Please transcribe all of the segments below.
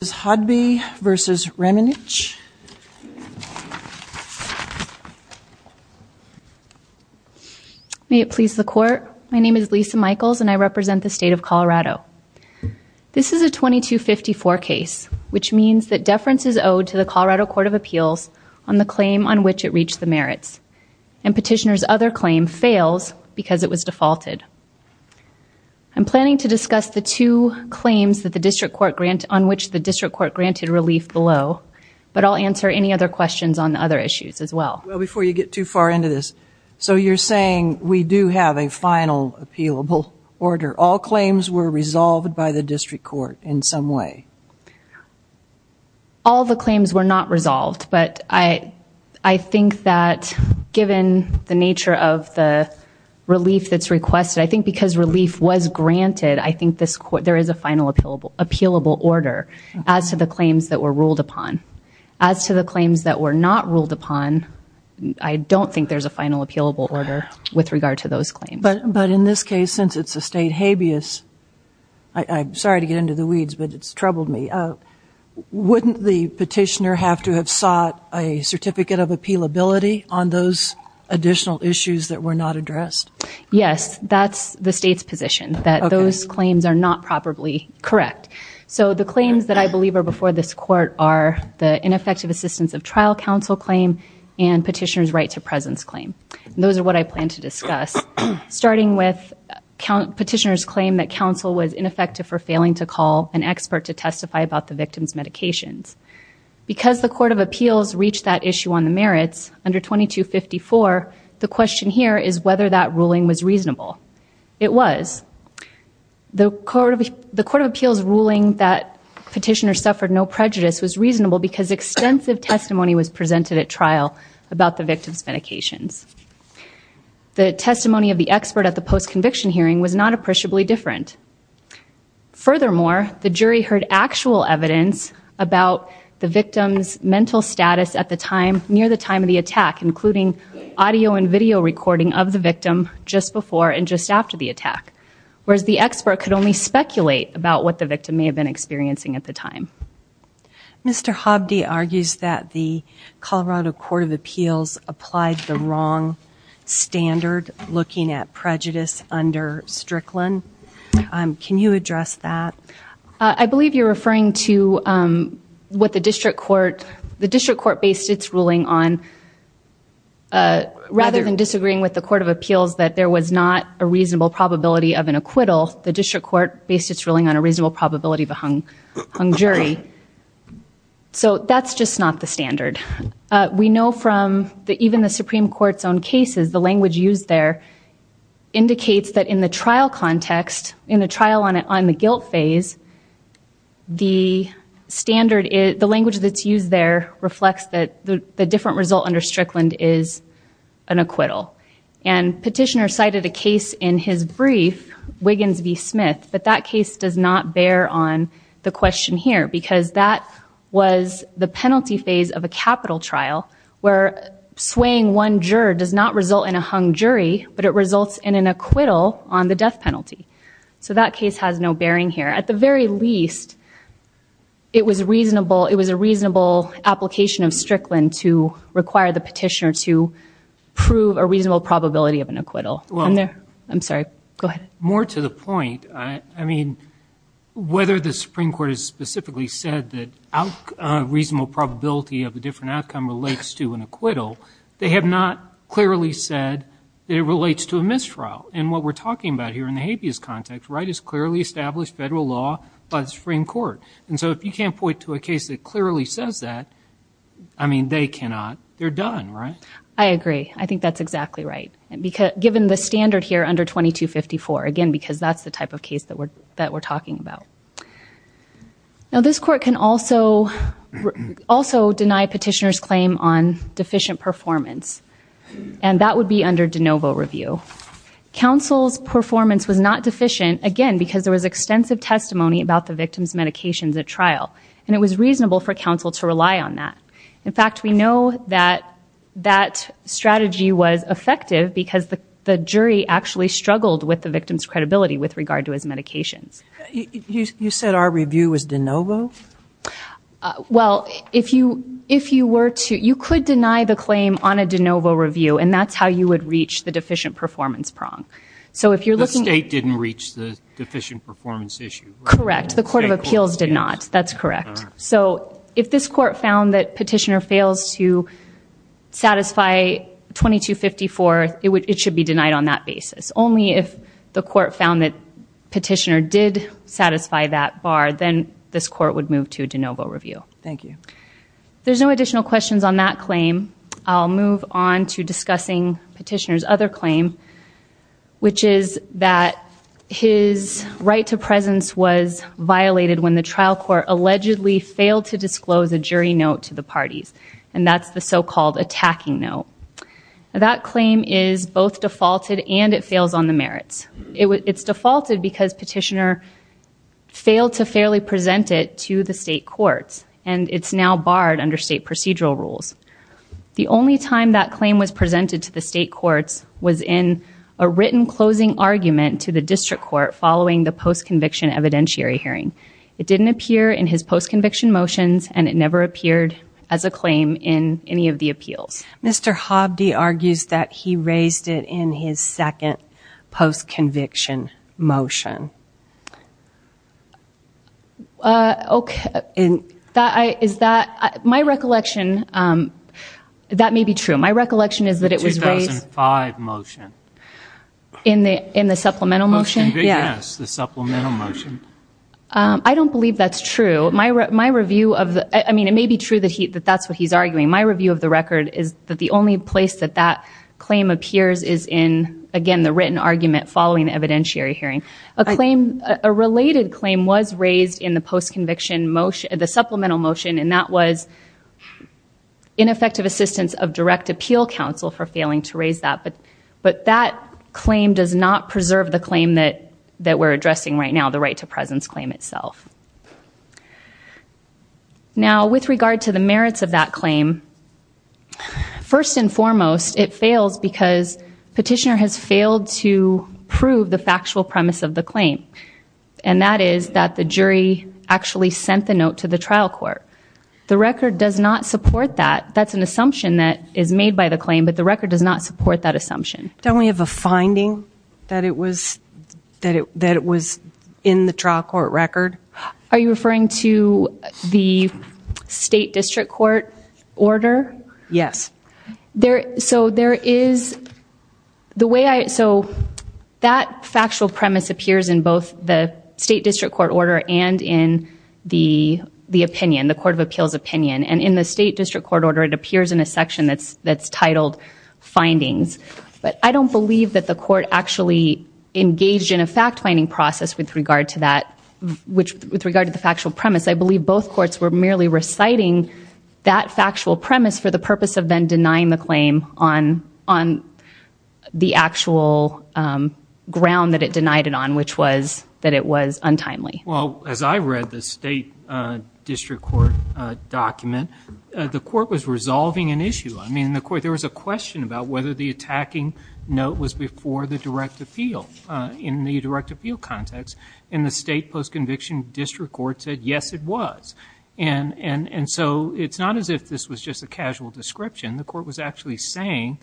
May it please the court, my name is Lisa Michaels and I represent the state of Colorado. This is a 2254 case, which means that deference is owed to the Colorado Court of Appeals on the claim on which it reached the merits, and petitioner's other claim fails because it was defaulted. I'm planning to discuss the two claims on which the district court granted relief below, but I'll answer any other questions on the other issues as well. Before you get too far into this, so you're saying we do have a final appealable order, all claims were resolved by the district court in some way? All the claims were not resolved, but I think that given the nature of the relief that's requested, I think because relief was granted, I think there is a final appealable order as to the claims that were ruled upon. As to the claims that were not ruled upon, I don't think there's a final appealable order with regard to those claims. But in this case, since it's a state habeas, I'm sorry to get into the weeds, but it's troubled me, wouldn't the petitioner have to have sought a certificate of appealability on those additional issues that were not addressed? Yes, that's the state's position, that those claims are not properly correct. So the claims that I believe are before this court are the ineffective assistance of trial counsel claim and petitioner's right to presence claim. Those are what I plan to discuss, starting with petitioner's claim that counsel was ineffective for failing to call an expert to testify about the victim's medications. Because the court of appeals reached that issue on the merits under 2254, the question here is whether that ruling was reasonable. It was. The court of appeals ruling that petitioner suffered no prejudice was reasonable because extensive testimony was presented at trial about the victim's medications. The testimony of the expert at the post-conviction hearing was not appreciably different. Furthermore, the jury heard actual evidence about the victim's mental status at the time, of the attack, including audio and video recording of the victim just before and just after the attack. Whereas the expert could only speculate about what the victim may have been experiencing at the time. Mr. Hobde argues that the Colorado court of appeals applied the wrong standard looking at prejudice under Strickland. Can you address that? I believe you're referring to what the district court, the district court based its ruling on rather than disagreeing with the court of appeals that there was not a reasonable probability of an acquittal, the district court based its ruling on a reasonable probability of a hung jury. So that's just not the standard. We know from even the Supreme Court's own cases, the language used there indicates that in the trial context, in the trial on the guilt phase, the standard, the language that's used there reflects that the different result under Strickland is an acquittal. And petitioner cited a case in his brief, Wiggins v. Smith, but that case does not bear on the question here because that was the penalty phase of a capital trial where swaying one juror does not result in a hung jury, but it results in an acquittal on the death penalty. So that case has no bearing here. At the very least, it was reasonable, it was a reasonable application of Strickland to require the petitioner to prove a reasonable probability of an acquittal. I'm sorry, go ahead. More to the point, I mean, whether the Supreme Court has specifically said that reasonable probability of a different outcome relates to an acquittal, they have not clearly said it relates to a mistrial. And what we're talking about here in the habeas context, right, is clearly established federal law by the Supreme Court. And so if you can't point to a case that clearly says that, I mean, they cannot, they're done, right? I agree. I think that's exactly right, given the standard here under 2254, again, because that's the type of case that we're talking about. Now, this court can also deny petitioner's claim on deficient performance, and that would be under de novo review. Counsel's performance was not deficient, again, because there was extensive testimony about the victim's medications at trial, and it was reasonable for counsel to rely on that. In fact, we know that that strategy was effective because the jury actually struggled with the victim's credibility with regard to his medications. You said our review was de novo? Well, if you were to, you could deny the claim on a de novo review, and that's how you would reach the deficient performance prong. So if you're looking at... The state didn't reach the deficient performance issue, right? Correct. The court of appeals did not. That's correct. All right. So if this court found that petitioner fails to satisfy 2254, it should be denied on that If it did satisfy that bar, then this court would move to de novo review. Thank you. There's no additional questions on that claim. I'll move on to discussing petitioner's other claim, which is that his right to presence was violated when the trial court allegedly failed to disclose a jury note to the parties, and that's the so-called attacking note. That claim is both defaulted and it fails on the merits. It's defaulted because petitioner failed to fairly present it to the state courts, and it's now barred under state procedural rules. The only time that claim was presented to the state courts was in a written closing argument to the district court following the post-conviction evidentiary hearing. It didn't appear in his post-conviction motions, and it never appeared as a claim in any of the appeals. Mr. Hobde argues that he raised it in his second post-conviction motion. Okay. Is that... My recollection, that may be true. My recollection is that it was raised... 2005 motion. In the supplemental motion? Yes, the supplemental motion. I don't believe that's true. My review of the... I mean, it may be true that that's what he's arguing. My review of the record is that the only place that that claim appears is in, again, the written argument following the evidentiary hearing. A claim... A related claim was raised in the post-conviction motion... The supplemental motion, and that was ineffective assistance of direct appeal counsel for failing to raise that. But that claim does not preserve the claim that we're addressing right now, the right to presence claim itself. Now, with regard to the merits of that claim, first and foremost, it fails because Petitioner has failed to prove the factual premise of the claim, and that is that the jury actually sent the note to the trial court. The record does not support that. That's an assumption that is made by the claim, but the record does not support that assumption. Don't we have a finding that it was... That it was in the trial court record? Are you referring to the state district court order? Yes. There... So there is... The way I... So that factual premise appears in both the state district court order and in the opinion, the Court of Appeals opinion. And in the state district court order, it appears in a section that's titled findings. But I don't believe that the court actually engaged in a fact-finding process with regard to that, which with regard to the factual premise, I believe both courts were merely reciting that factual premise for the purpose of then denying the claim on the actual ground that it denied it on, which was that it was untimely. Well, as I read the state district court document, the court was resolving an issue. I mean, the court... There was a question about whether the attacking note was before the direct appeal in the direct appeal context. And the state post-conviction district court said, yes, it was. And so it's not as if this was just a casual description. The court was actually saying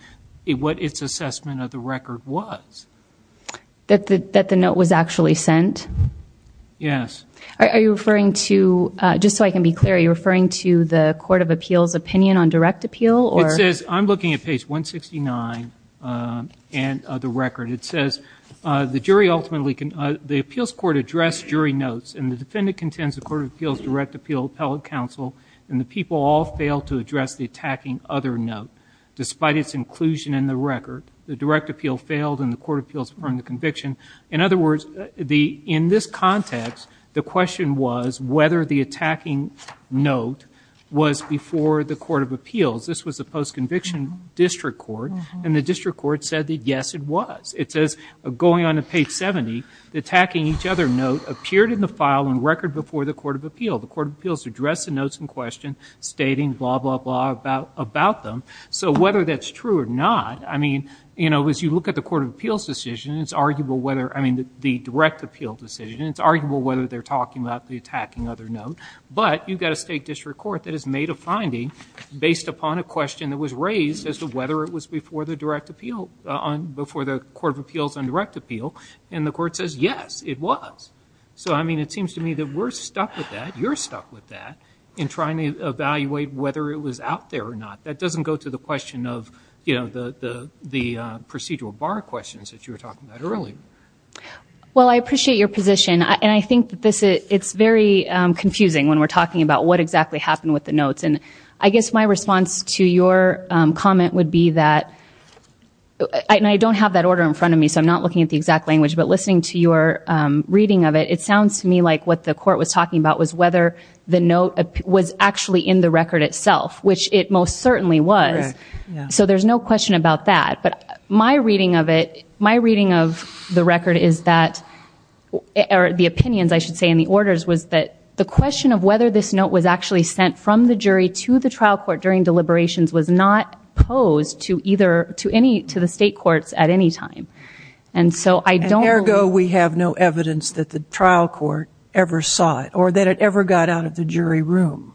what its assessment of the record was. That the note was actually sent? Yes. Are you referring to... Just so I can be clear, are you referring to the Court of Appeals opinion on direct appeal or... It says... I'm looking at page 169 of the record. It says, the jury ultimately... The appeals court addressed jury notes and the defendant contends the Court of Appeals direct appeal appellate counsel and the people all failed to address the attacking other note despite its inclusion in the record. The direct appeal failed and the Court of Appeals burned the conviction. In other words, in this context, the question was whether the attacking note was before the Court of Appeals. This was the post-conviction district court. And the district court said that, yes, it was. It says, going on to page 70, the attacking each other note appeared in the file on record before the Court of Appeals. The Court of Appeals addressed the notes in question stating blah, blah, blah about them. So whether that's true or not, I mean, you know, as you look at the Court of Appeals decision, it's arguable whether, I mean, the direct appeal decision, it's arguable whether they're talking about the attacking other note. But you've got a state district court that has made a finding based upon a question that was raised as to whether it was before the Court of Appeals on direct appeal. And the Court says, yes, it was. So I mean, it seems to me that we're stuck with that, you're stuck with that, in trying to evaluate whether it was out there or not. That doesn't go to the question of, you know, the procedural bar questions that you were talking about earlier. Well, I appreciate your position. And I think that it's very confusing when we're talking about what exactly happened with the notes. And I guess my response to your comment would be that, and I don't have that order in front of me, so I'm not looking at the exact language, but listening to your reading of it, it sounds to me like what the court was talking about was whether the note was actually in the record itself, which it most certainly was. So there's no question about that. But my reading of it, my reading of the record is that, or the opinions, I should say, in the orders was that the question of whether this note was actually sent from the jury to the trial court during deliberations was not posed to either, to any, to the state courts at any time. And so I don't... And ergo, we have no evidence that the trial court ever saw it, or that it ever got out of the jury room.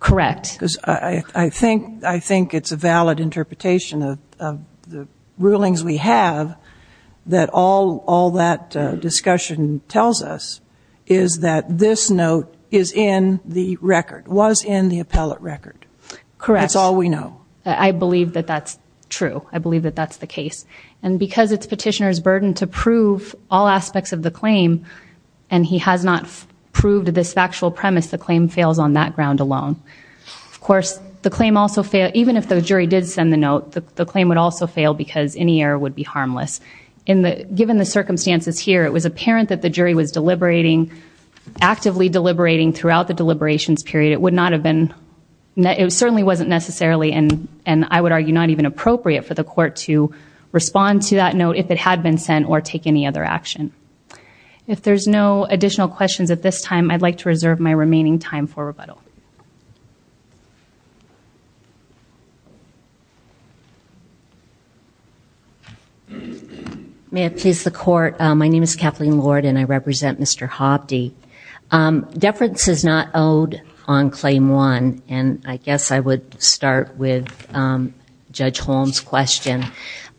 Correct. Because I think, I think it's a valid interpretation of the rulings we have that all that discussion tells us is that this note is in the record, was in the appellate record. Correct. That's all we know. I believe that that's true. I believe that that's the case. And because it's petitioner's burden to prove all aspects of the claim, and he has not proved this factual premise, the claim fails on that ground alone. Of course, the claim also failed, even if the jury did send the note, the claim would also fail because any error would be harmless. In the... Given the circumstances here, it was apparent that the jury was deliberating, actively deliberating throughout the deliberations period. It would not have been... It certainly wasn't necessarily, and I would argue, not even appropriate for the court to respond to that note if it had been sent or take any other action. If there's no additional questions at this time, I'd like to reserve my remaining time for rebuttal. May I please the court? My name is Kathleen Lord, and I represent Mr. Hovde. Deference is not owed on claim one, and I guess I would start with Judge Holm's question.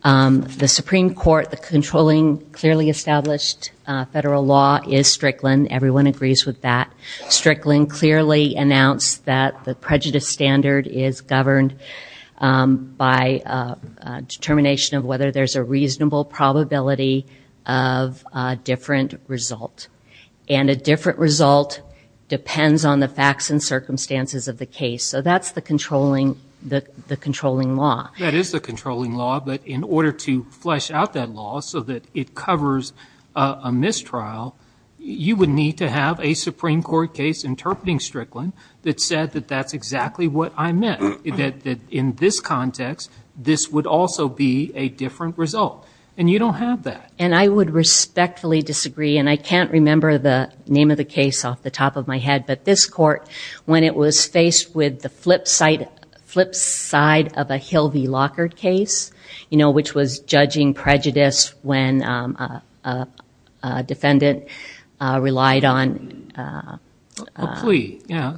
The Supreme Court, the controlling, clearly established federal law is Strickland. Everyone agrees with that. Strickland clearly announced that the prejudice standard is governed by a determination of whether there's a reasonable probability of a different result. And a different result depends on the facts and circumstances of the case. So that's the controlling law. That is the controlling law, but in order to flesh out that law so that it covers a case trial, you would need to have a Supreme Court case interpreting Strickland that said that that's exactly what I meant, that in this context, this would also be a different result. And you don't have that. And I would respectfully disagree, and I can't remember the name of the case off the top of my head, but this court, when it was faced with the flip side of a Hilvey Lockard case, you know, which was judging prejudice when a defendant relied on a plea, yeah,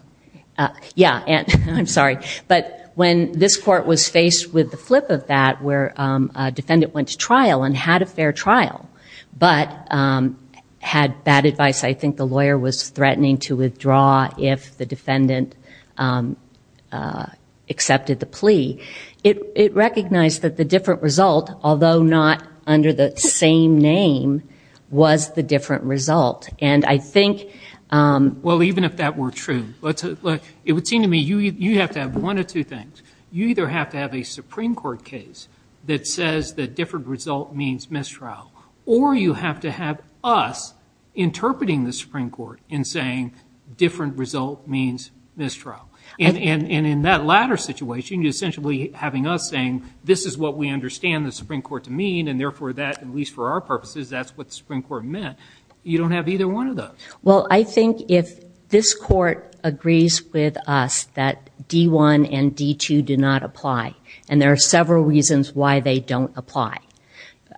I'm sorry. But when this court was faced with the flip of that, where a defendant went to trial and had a fair trial, but had bad advice, I think the lawyer was threatening to withdraw if the defendant accepted the plea. It recognized that the different result, although not under the same name, was the different result. And I think- Well, even if that were true, it would seem to me you have to have one of two things. You either have to have a Supreme Court case that says that different result means mistrial, or you have to have us interpreting the Supreme Court and saying different result means mistrial. And in that latter situation, you're essentially having us saying, this is what we understand the Supreme Court to mean, and therefore that, at least for our purposes, that's what the Supreme Court meant. You don't have either one of those. Well, I think if this court agrees with us that D-1 and D-2 do not apply, and there are several reasons why they don't apply.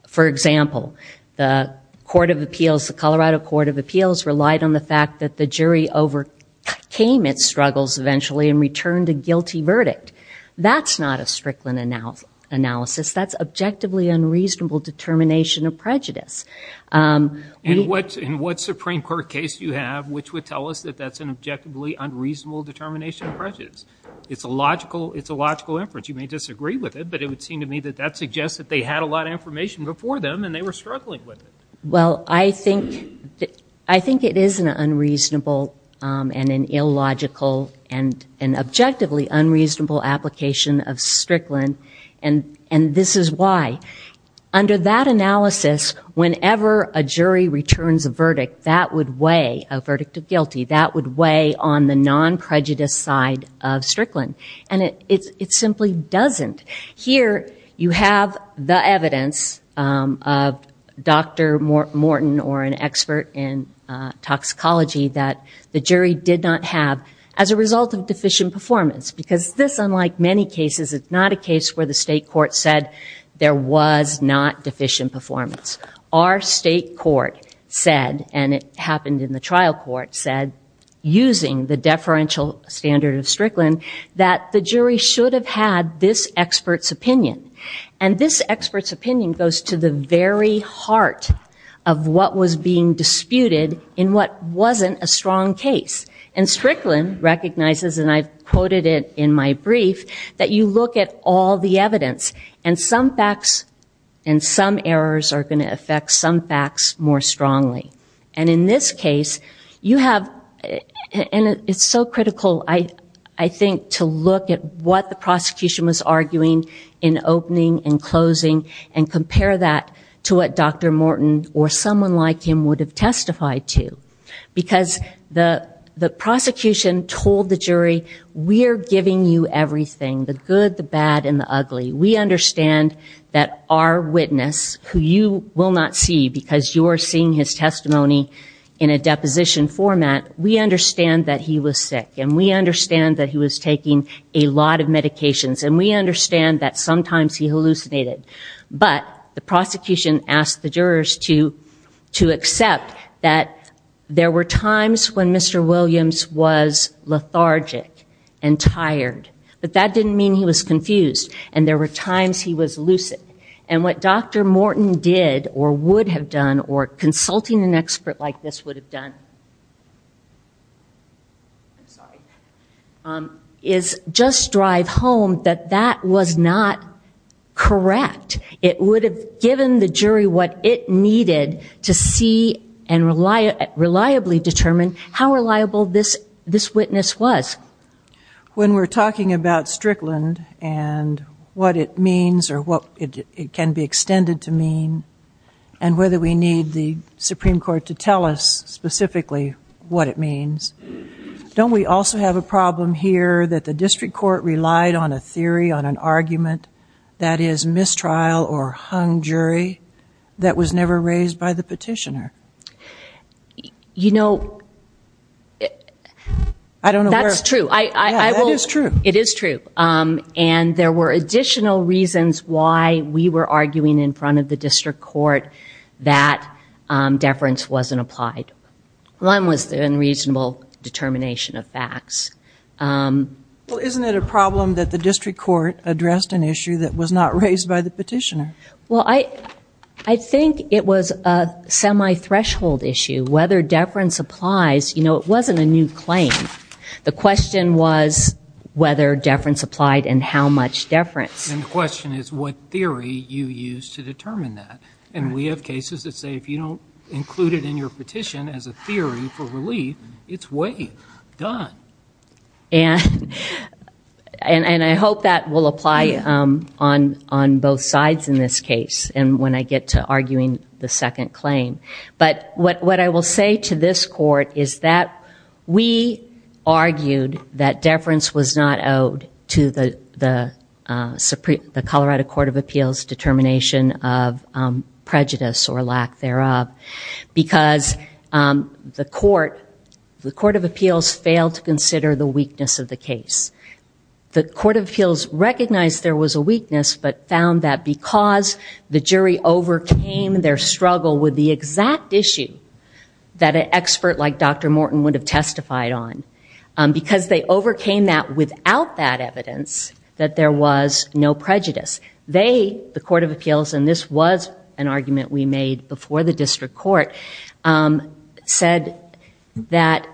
For example, the Court of Appeals, the Colorado Court of Appeals, relied on the fact that the jury overcame its struggles eventually and returned a guilty verdict. That's not a Strickland analysis. That's objectively unreasonable determination of prejudice. In what Supreme Court case do you have which would tell us that that's an objectively unreasonable determination of prejudice? It's a logical inference. You may disagree with it, but it would seem to me that that suggests that they had a lot of information before them, and they were struggling with it. Well, I think it is an unreasonable and an illogical and an objectively unreasonable application of Strickland, and this is why. Under that analysis, whenever a jury returns a verdict, that would weigh a verdict of guilty. That would weigh on the non-prejudice side of Strickland, and it simply doesn't. Here you have the evidence of Dr. Morton or an expert in toxicology that the jury did not have as a result of deficient performance, because this, unlike many cases, is not a case where the state court said there was not deficient performance. Our state court said, and it happened in the trial court, said using the deferential standard of Strickland, that the jury should have had this expert's opinion. And this expert's opinion goes to the very heart of what was being disputed in what wasn't a strong case. And Strickland recognizes, and I've quoted it in my brief, that you look at all the evidence, and some facts and some errors are going to affect some facts more strongly. And in this case, you have, and it's so critical, I think, to look at what the prosecution was arguing in opening and closing and compare that to what Dr. Morton or someone like him would have testified to. Because the prosecution told the jury, we are giving you everything, the good, the bad, and the ugly. We understand that our witness, who you will not see because you are seeing his testimony in a deposition format, we understand that he was sick, and we understand that he was taking a lot of medications, and we understand that sometimes he hallucinated. But the prosecution asked the jurors to accept that there were times when Mr. Williams was lethargic and tired. But that didn't mean he was confused. And there were times he was lucid. And what Dr. Morton did, or would have done, or consulting an expert like this would have done, is just drive home that that was not correct. It would have given the jury what it needed to see and reliably determine how reliable this witness was. When we're talking about Strickland and what it means, or what it can be extended to mean, and whether we need the Supreme Court to tell us specifically what it means, don't we also have a problem here that the district court relied on a theory, on an argument, that is mistrial or hung jury, that was never raised by the petitioner? You know, that's true. That is true. It is true. And there were additional reasons why we were arguing in front of the district court that deference wasn't applied. One was the unreasonable determination of facts. Well, isn't it a problem that the district court addressed an issue that was not raised by the petitioner? Well, I think it was a semi-threshold issue. Whether deference applies, you know, it wasn't a new claim. The question was whether deference applied and how much deference. And the question is what theory you used to determine that. And we have cases that say if you don't include it in your petition as a theory for relief, it's way done. And I hope that will apply on both sides in this case and when I get to arguing the second claim. But what I will say to this court is that we argued that deference was not owed to the Colorado Court of Appeals determination of prejudice or lack thereof because the court of appeals failed to consider the weakness of the case. The court of appeals recognized there was a weakness but found that because the jury overcame their struggle with the exact issue that an expert like Dr. Morton would have testified on, because they overcame that without that evidence, that there was no prejudice. They, the court of appeals, and this was an argument we made before the district court, said that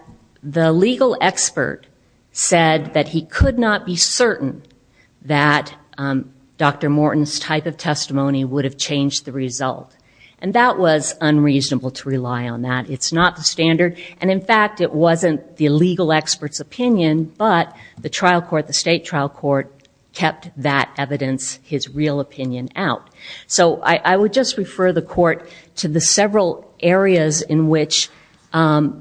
the legal expert said that he could not be certain that Dr. Morton's type of testimony would have changed the result. And that was unreasonable to rely on that. It's not the standard. And in fact, it wasn't the legal expert's opinion. But the trial court, the state trial court, kept that evidence, his real opinion, out. So I would just refer the court to the several areas in which the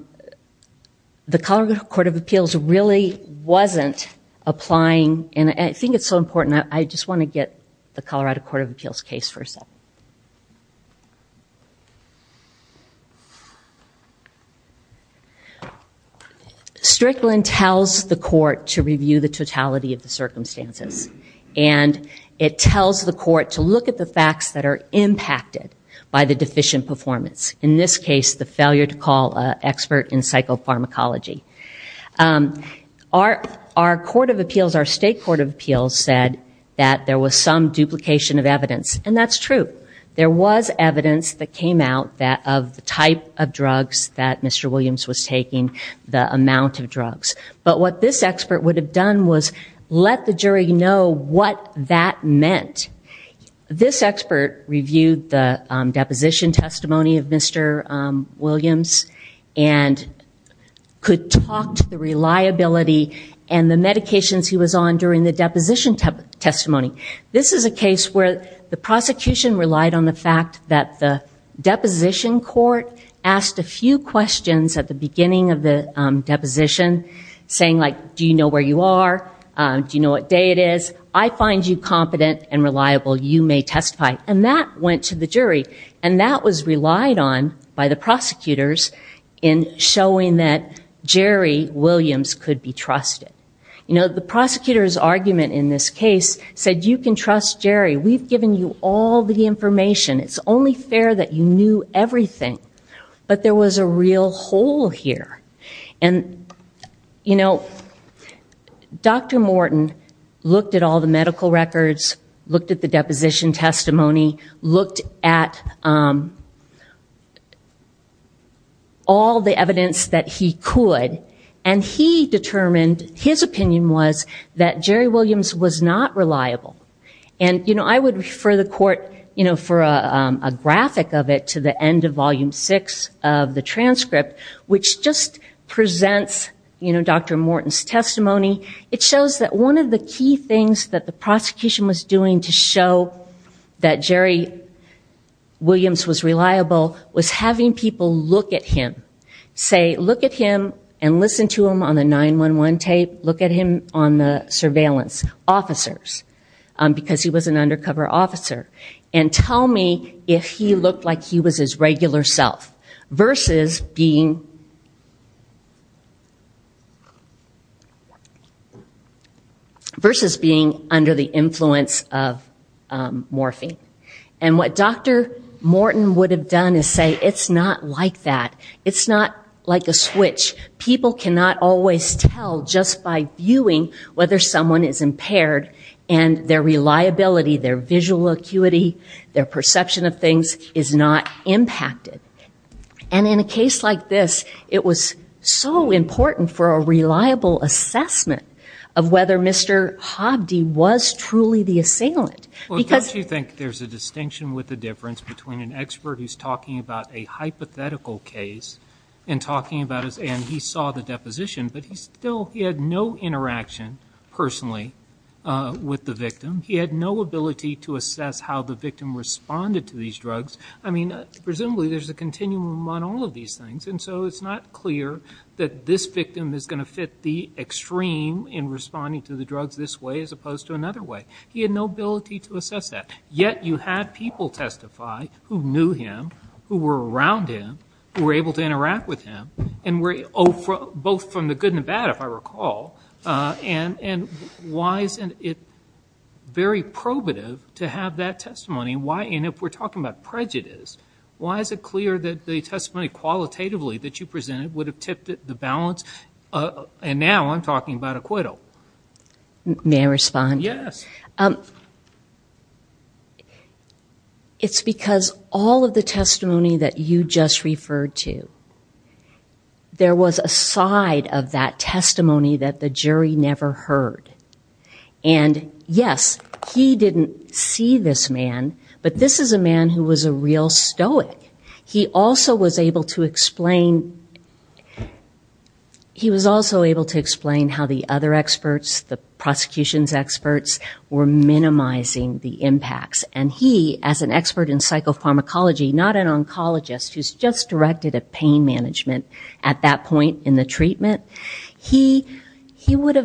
Colorado Court of Appeals really wasn't applying. And I think it's so important, I just want to get the Colorado Court of Appeals case first up. Strickland tells the court to review the totality of the circumstances. And it tells the court to look at the facts that are impacted by the deficient performance. In this case, the failure to call an expert in psychopharmacology. Our court of appeals, our state court of appeals, said that there was some duplication of evidence. And that's true. There was evidence that came out of the type of drugs that Mr. Williams was taking, the amount of drugs. But what this expert would have done was let the jury know what that meant. This expert reviewed the deposition testimony of Mr. Williams and could talk to the reliability and the medications he was on during the deposition testimony. This is a case where the prosecution relied on the fact that the deposition court asked a few questions at the beginning of the deposition, saying like, do you know where you are? Do you know what day it is? I find you competent and reliable. You may testify. And that went to the jury. And that was relied on by the prosecutors in showing that Jerry Williams could be trusted. You know, the prosecutor's argument in this case said, you can trust Jerry. We've given you all the information. It's only fair that you knew everything. But there was a real hole here. And Dr. Morton looked at all the medical records, looked at the deposition testimony, looked at all the evidence that he could. And he determined, his opinion was, that Jerry Williams was not reliable. And I would refer the court for a graphic of it to the end of volume six of the transcript, which just presents Dr. Morton's testimony. It shows that one of the key things that the prosecution was doing to show that Jerry Williams was reliable was having people look at him, say, look at him and listen to him on the 911 tape. Look at him on the surveillance officers, because he was an undercover officer. And tell me if he looked like he was his regular self versus being under the influence of morphine. And what Dr. Morton would have done is say, it's not like that. It's not like a switch. People cannot always tell just by viewing whether someone is impaired. And their reliability, their visual acuity, their perception of things is not impacted. And in a case like this, it was so important for a reliable assessment of whether Mr. Hobbs was truly the assailant. Well, don't you think there's a distinction with the difference between an expert who's talking about a hypothetical case and talking about his, and he saw the deposition, but he still, he had no interaction personally with the victim. He had no ability to assess how the victim responded to these drugs. I mean, presumably there's a continuum on all of these things. And so it's not clear that this victim is going to fit the extreme in responding to the drugs this way as opposed to another way. He had no ability to assess that. Yet, you had people testify who knew him, who were around him, who were able to interact with him, and were both from the good and the bad, if I recall. And why isn't it very probative to have that testimony? Why, and if we're talking about prejudice, why is it clear that the testimony qualitatively that you presented would have tipped the balance? And now I'm talking about acquittal. May I respond? Yes. It's because all of the testimony that you just referred to, there was a side of that testimony that the jury never heard. And yes, he didn't see this man, but this is a man who was a real stoic. He also was able to explain how the other experts, the prosecution's experts, were minimizing the impacts. And he, as an expert in psychopharmacology, not an oncologist who's just directed a pain management at that point in the treatment, he would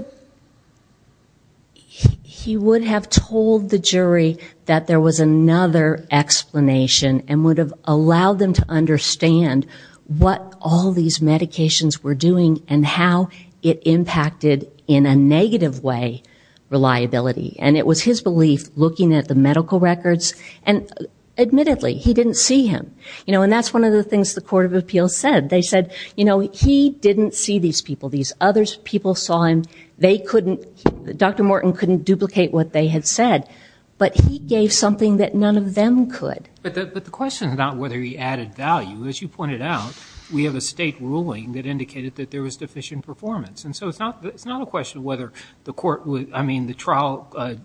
have told the jury that there was another explanation and would have allowed them to understand what all these medications were doing and how it impacted, in a negative way, reliability. And it was his belief, looking at the medical records, and admittedly, he didn't see him. You know, and that's one of the things the Court of Appeals said. They said, you know, he didn't see these people. These other people saw him. They couldn't, Dr. Morton couldn't duplicate what they had said. But he gave something that none of them could. But the question is not whether he added value. As you pointed out, we have a state ruling that indicated that there was deficient performance. And so it's not a question of whether the court would, I mean, the trial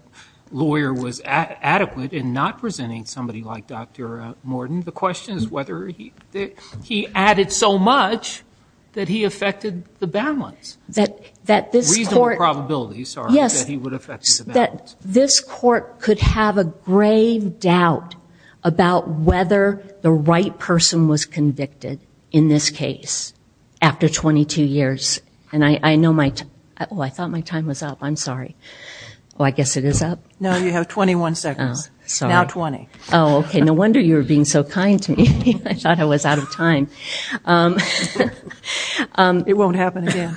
lawyer was adequate in not presenting somebody like Dr. Morton. I mean, the question is whether he added so much that he affected the balance, reasonable probabilities that he would affect the balance. This court could have a grave doubt about whether the right person was convicted in this case after 22 years. And I know my, oh, I thought my time was up. I'm sorry. Well, I guess it is up. No, you have 21 seconds. Now 20. Oh, OK. No wonder you were being so kind to me. I thought I was out of time. It won't happen again.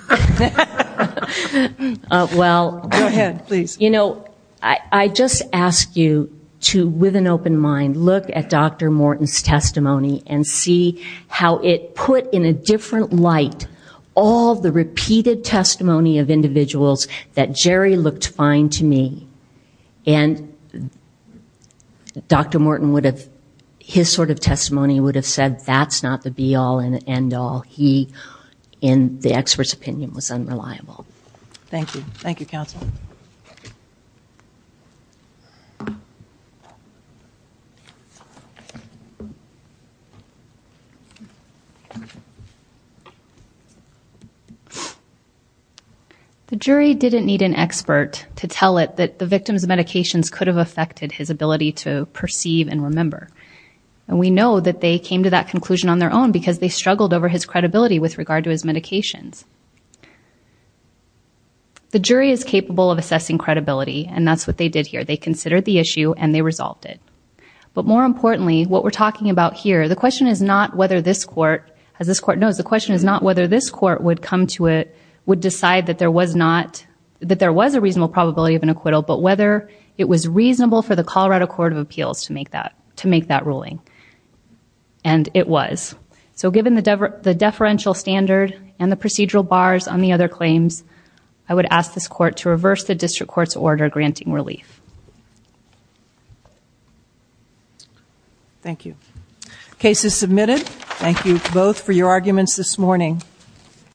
Well, go ahead, please. You know, I just ask you to, with an open mind, look at Dr. Morton's testimony and see how it put in a different light all the repeated testimony of individuals that Jerry looked fine to me. And Dr. Morton would have, his sort of testimony would have said that's not the be all and end all. He, in the expert's opinion, was unreliable. Thank you. Thank you, counsel. The jury didn't need an expert to tell it that the victim's medications could have affected his ability to perceive and remember. And we know that they came to that conclusion on their own because they struggled over his credibility with regard to his medications. The jury is capable of assessing credibility, and that's what they did here. They considered the issue, and they resolved it. But more importantly, what we're talking about here, the question is not whether this court, as this court knows, the question is not whether this court would come to it, would decide that there was not, that there was a reasonable probability of an acquittal, but whether it was reasonable for the Colorado Court of Appeals to make that, to make that ruling. And it was. So given the deferential standard and the procedural bars on the other claims, I would ask this court to reverse the district court's order granting relief. Thank you. Case is submitted. Thank you both for your arguments this morning.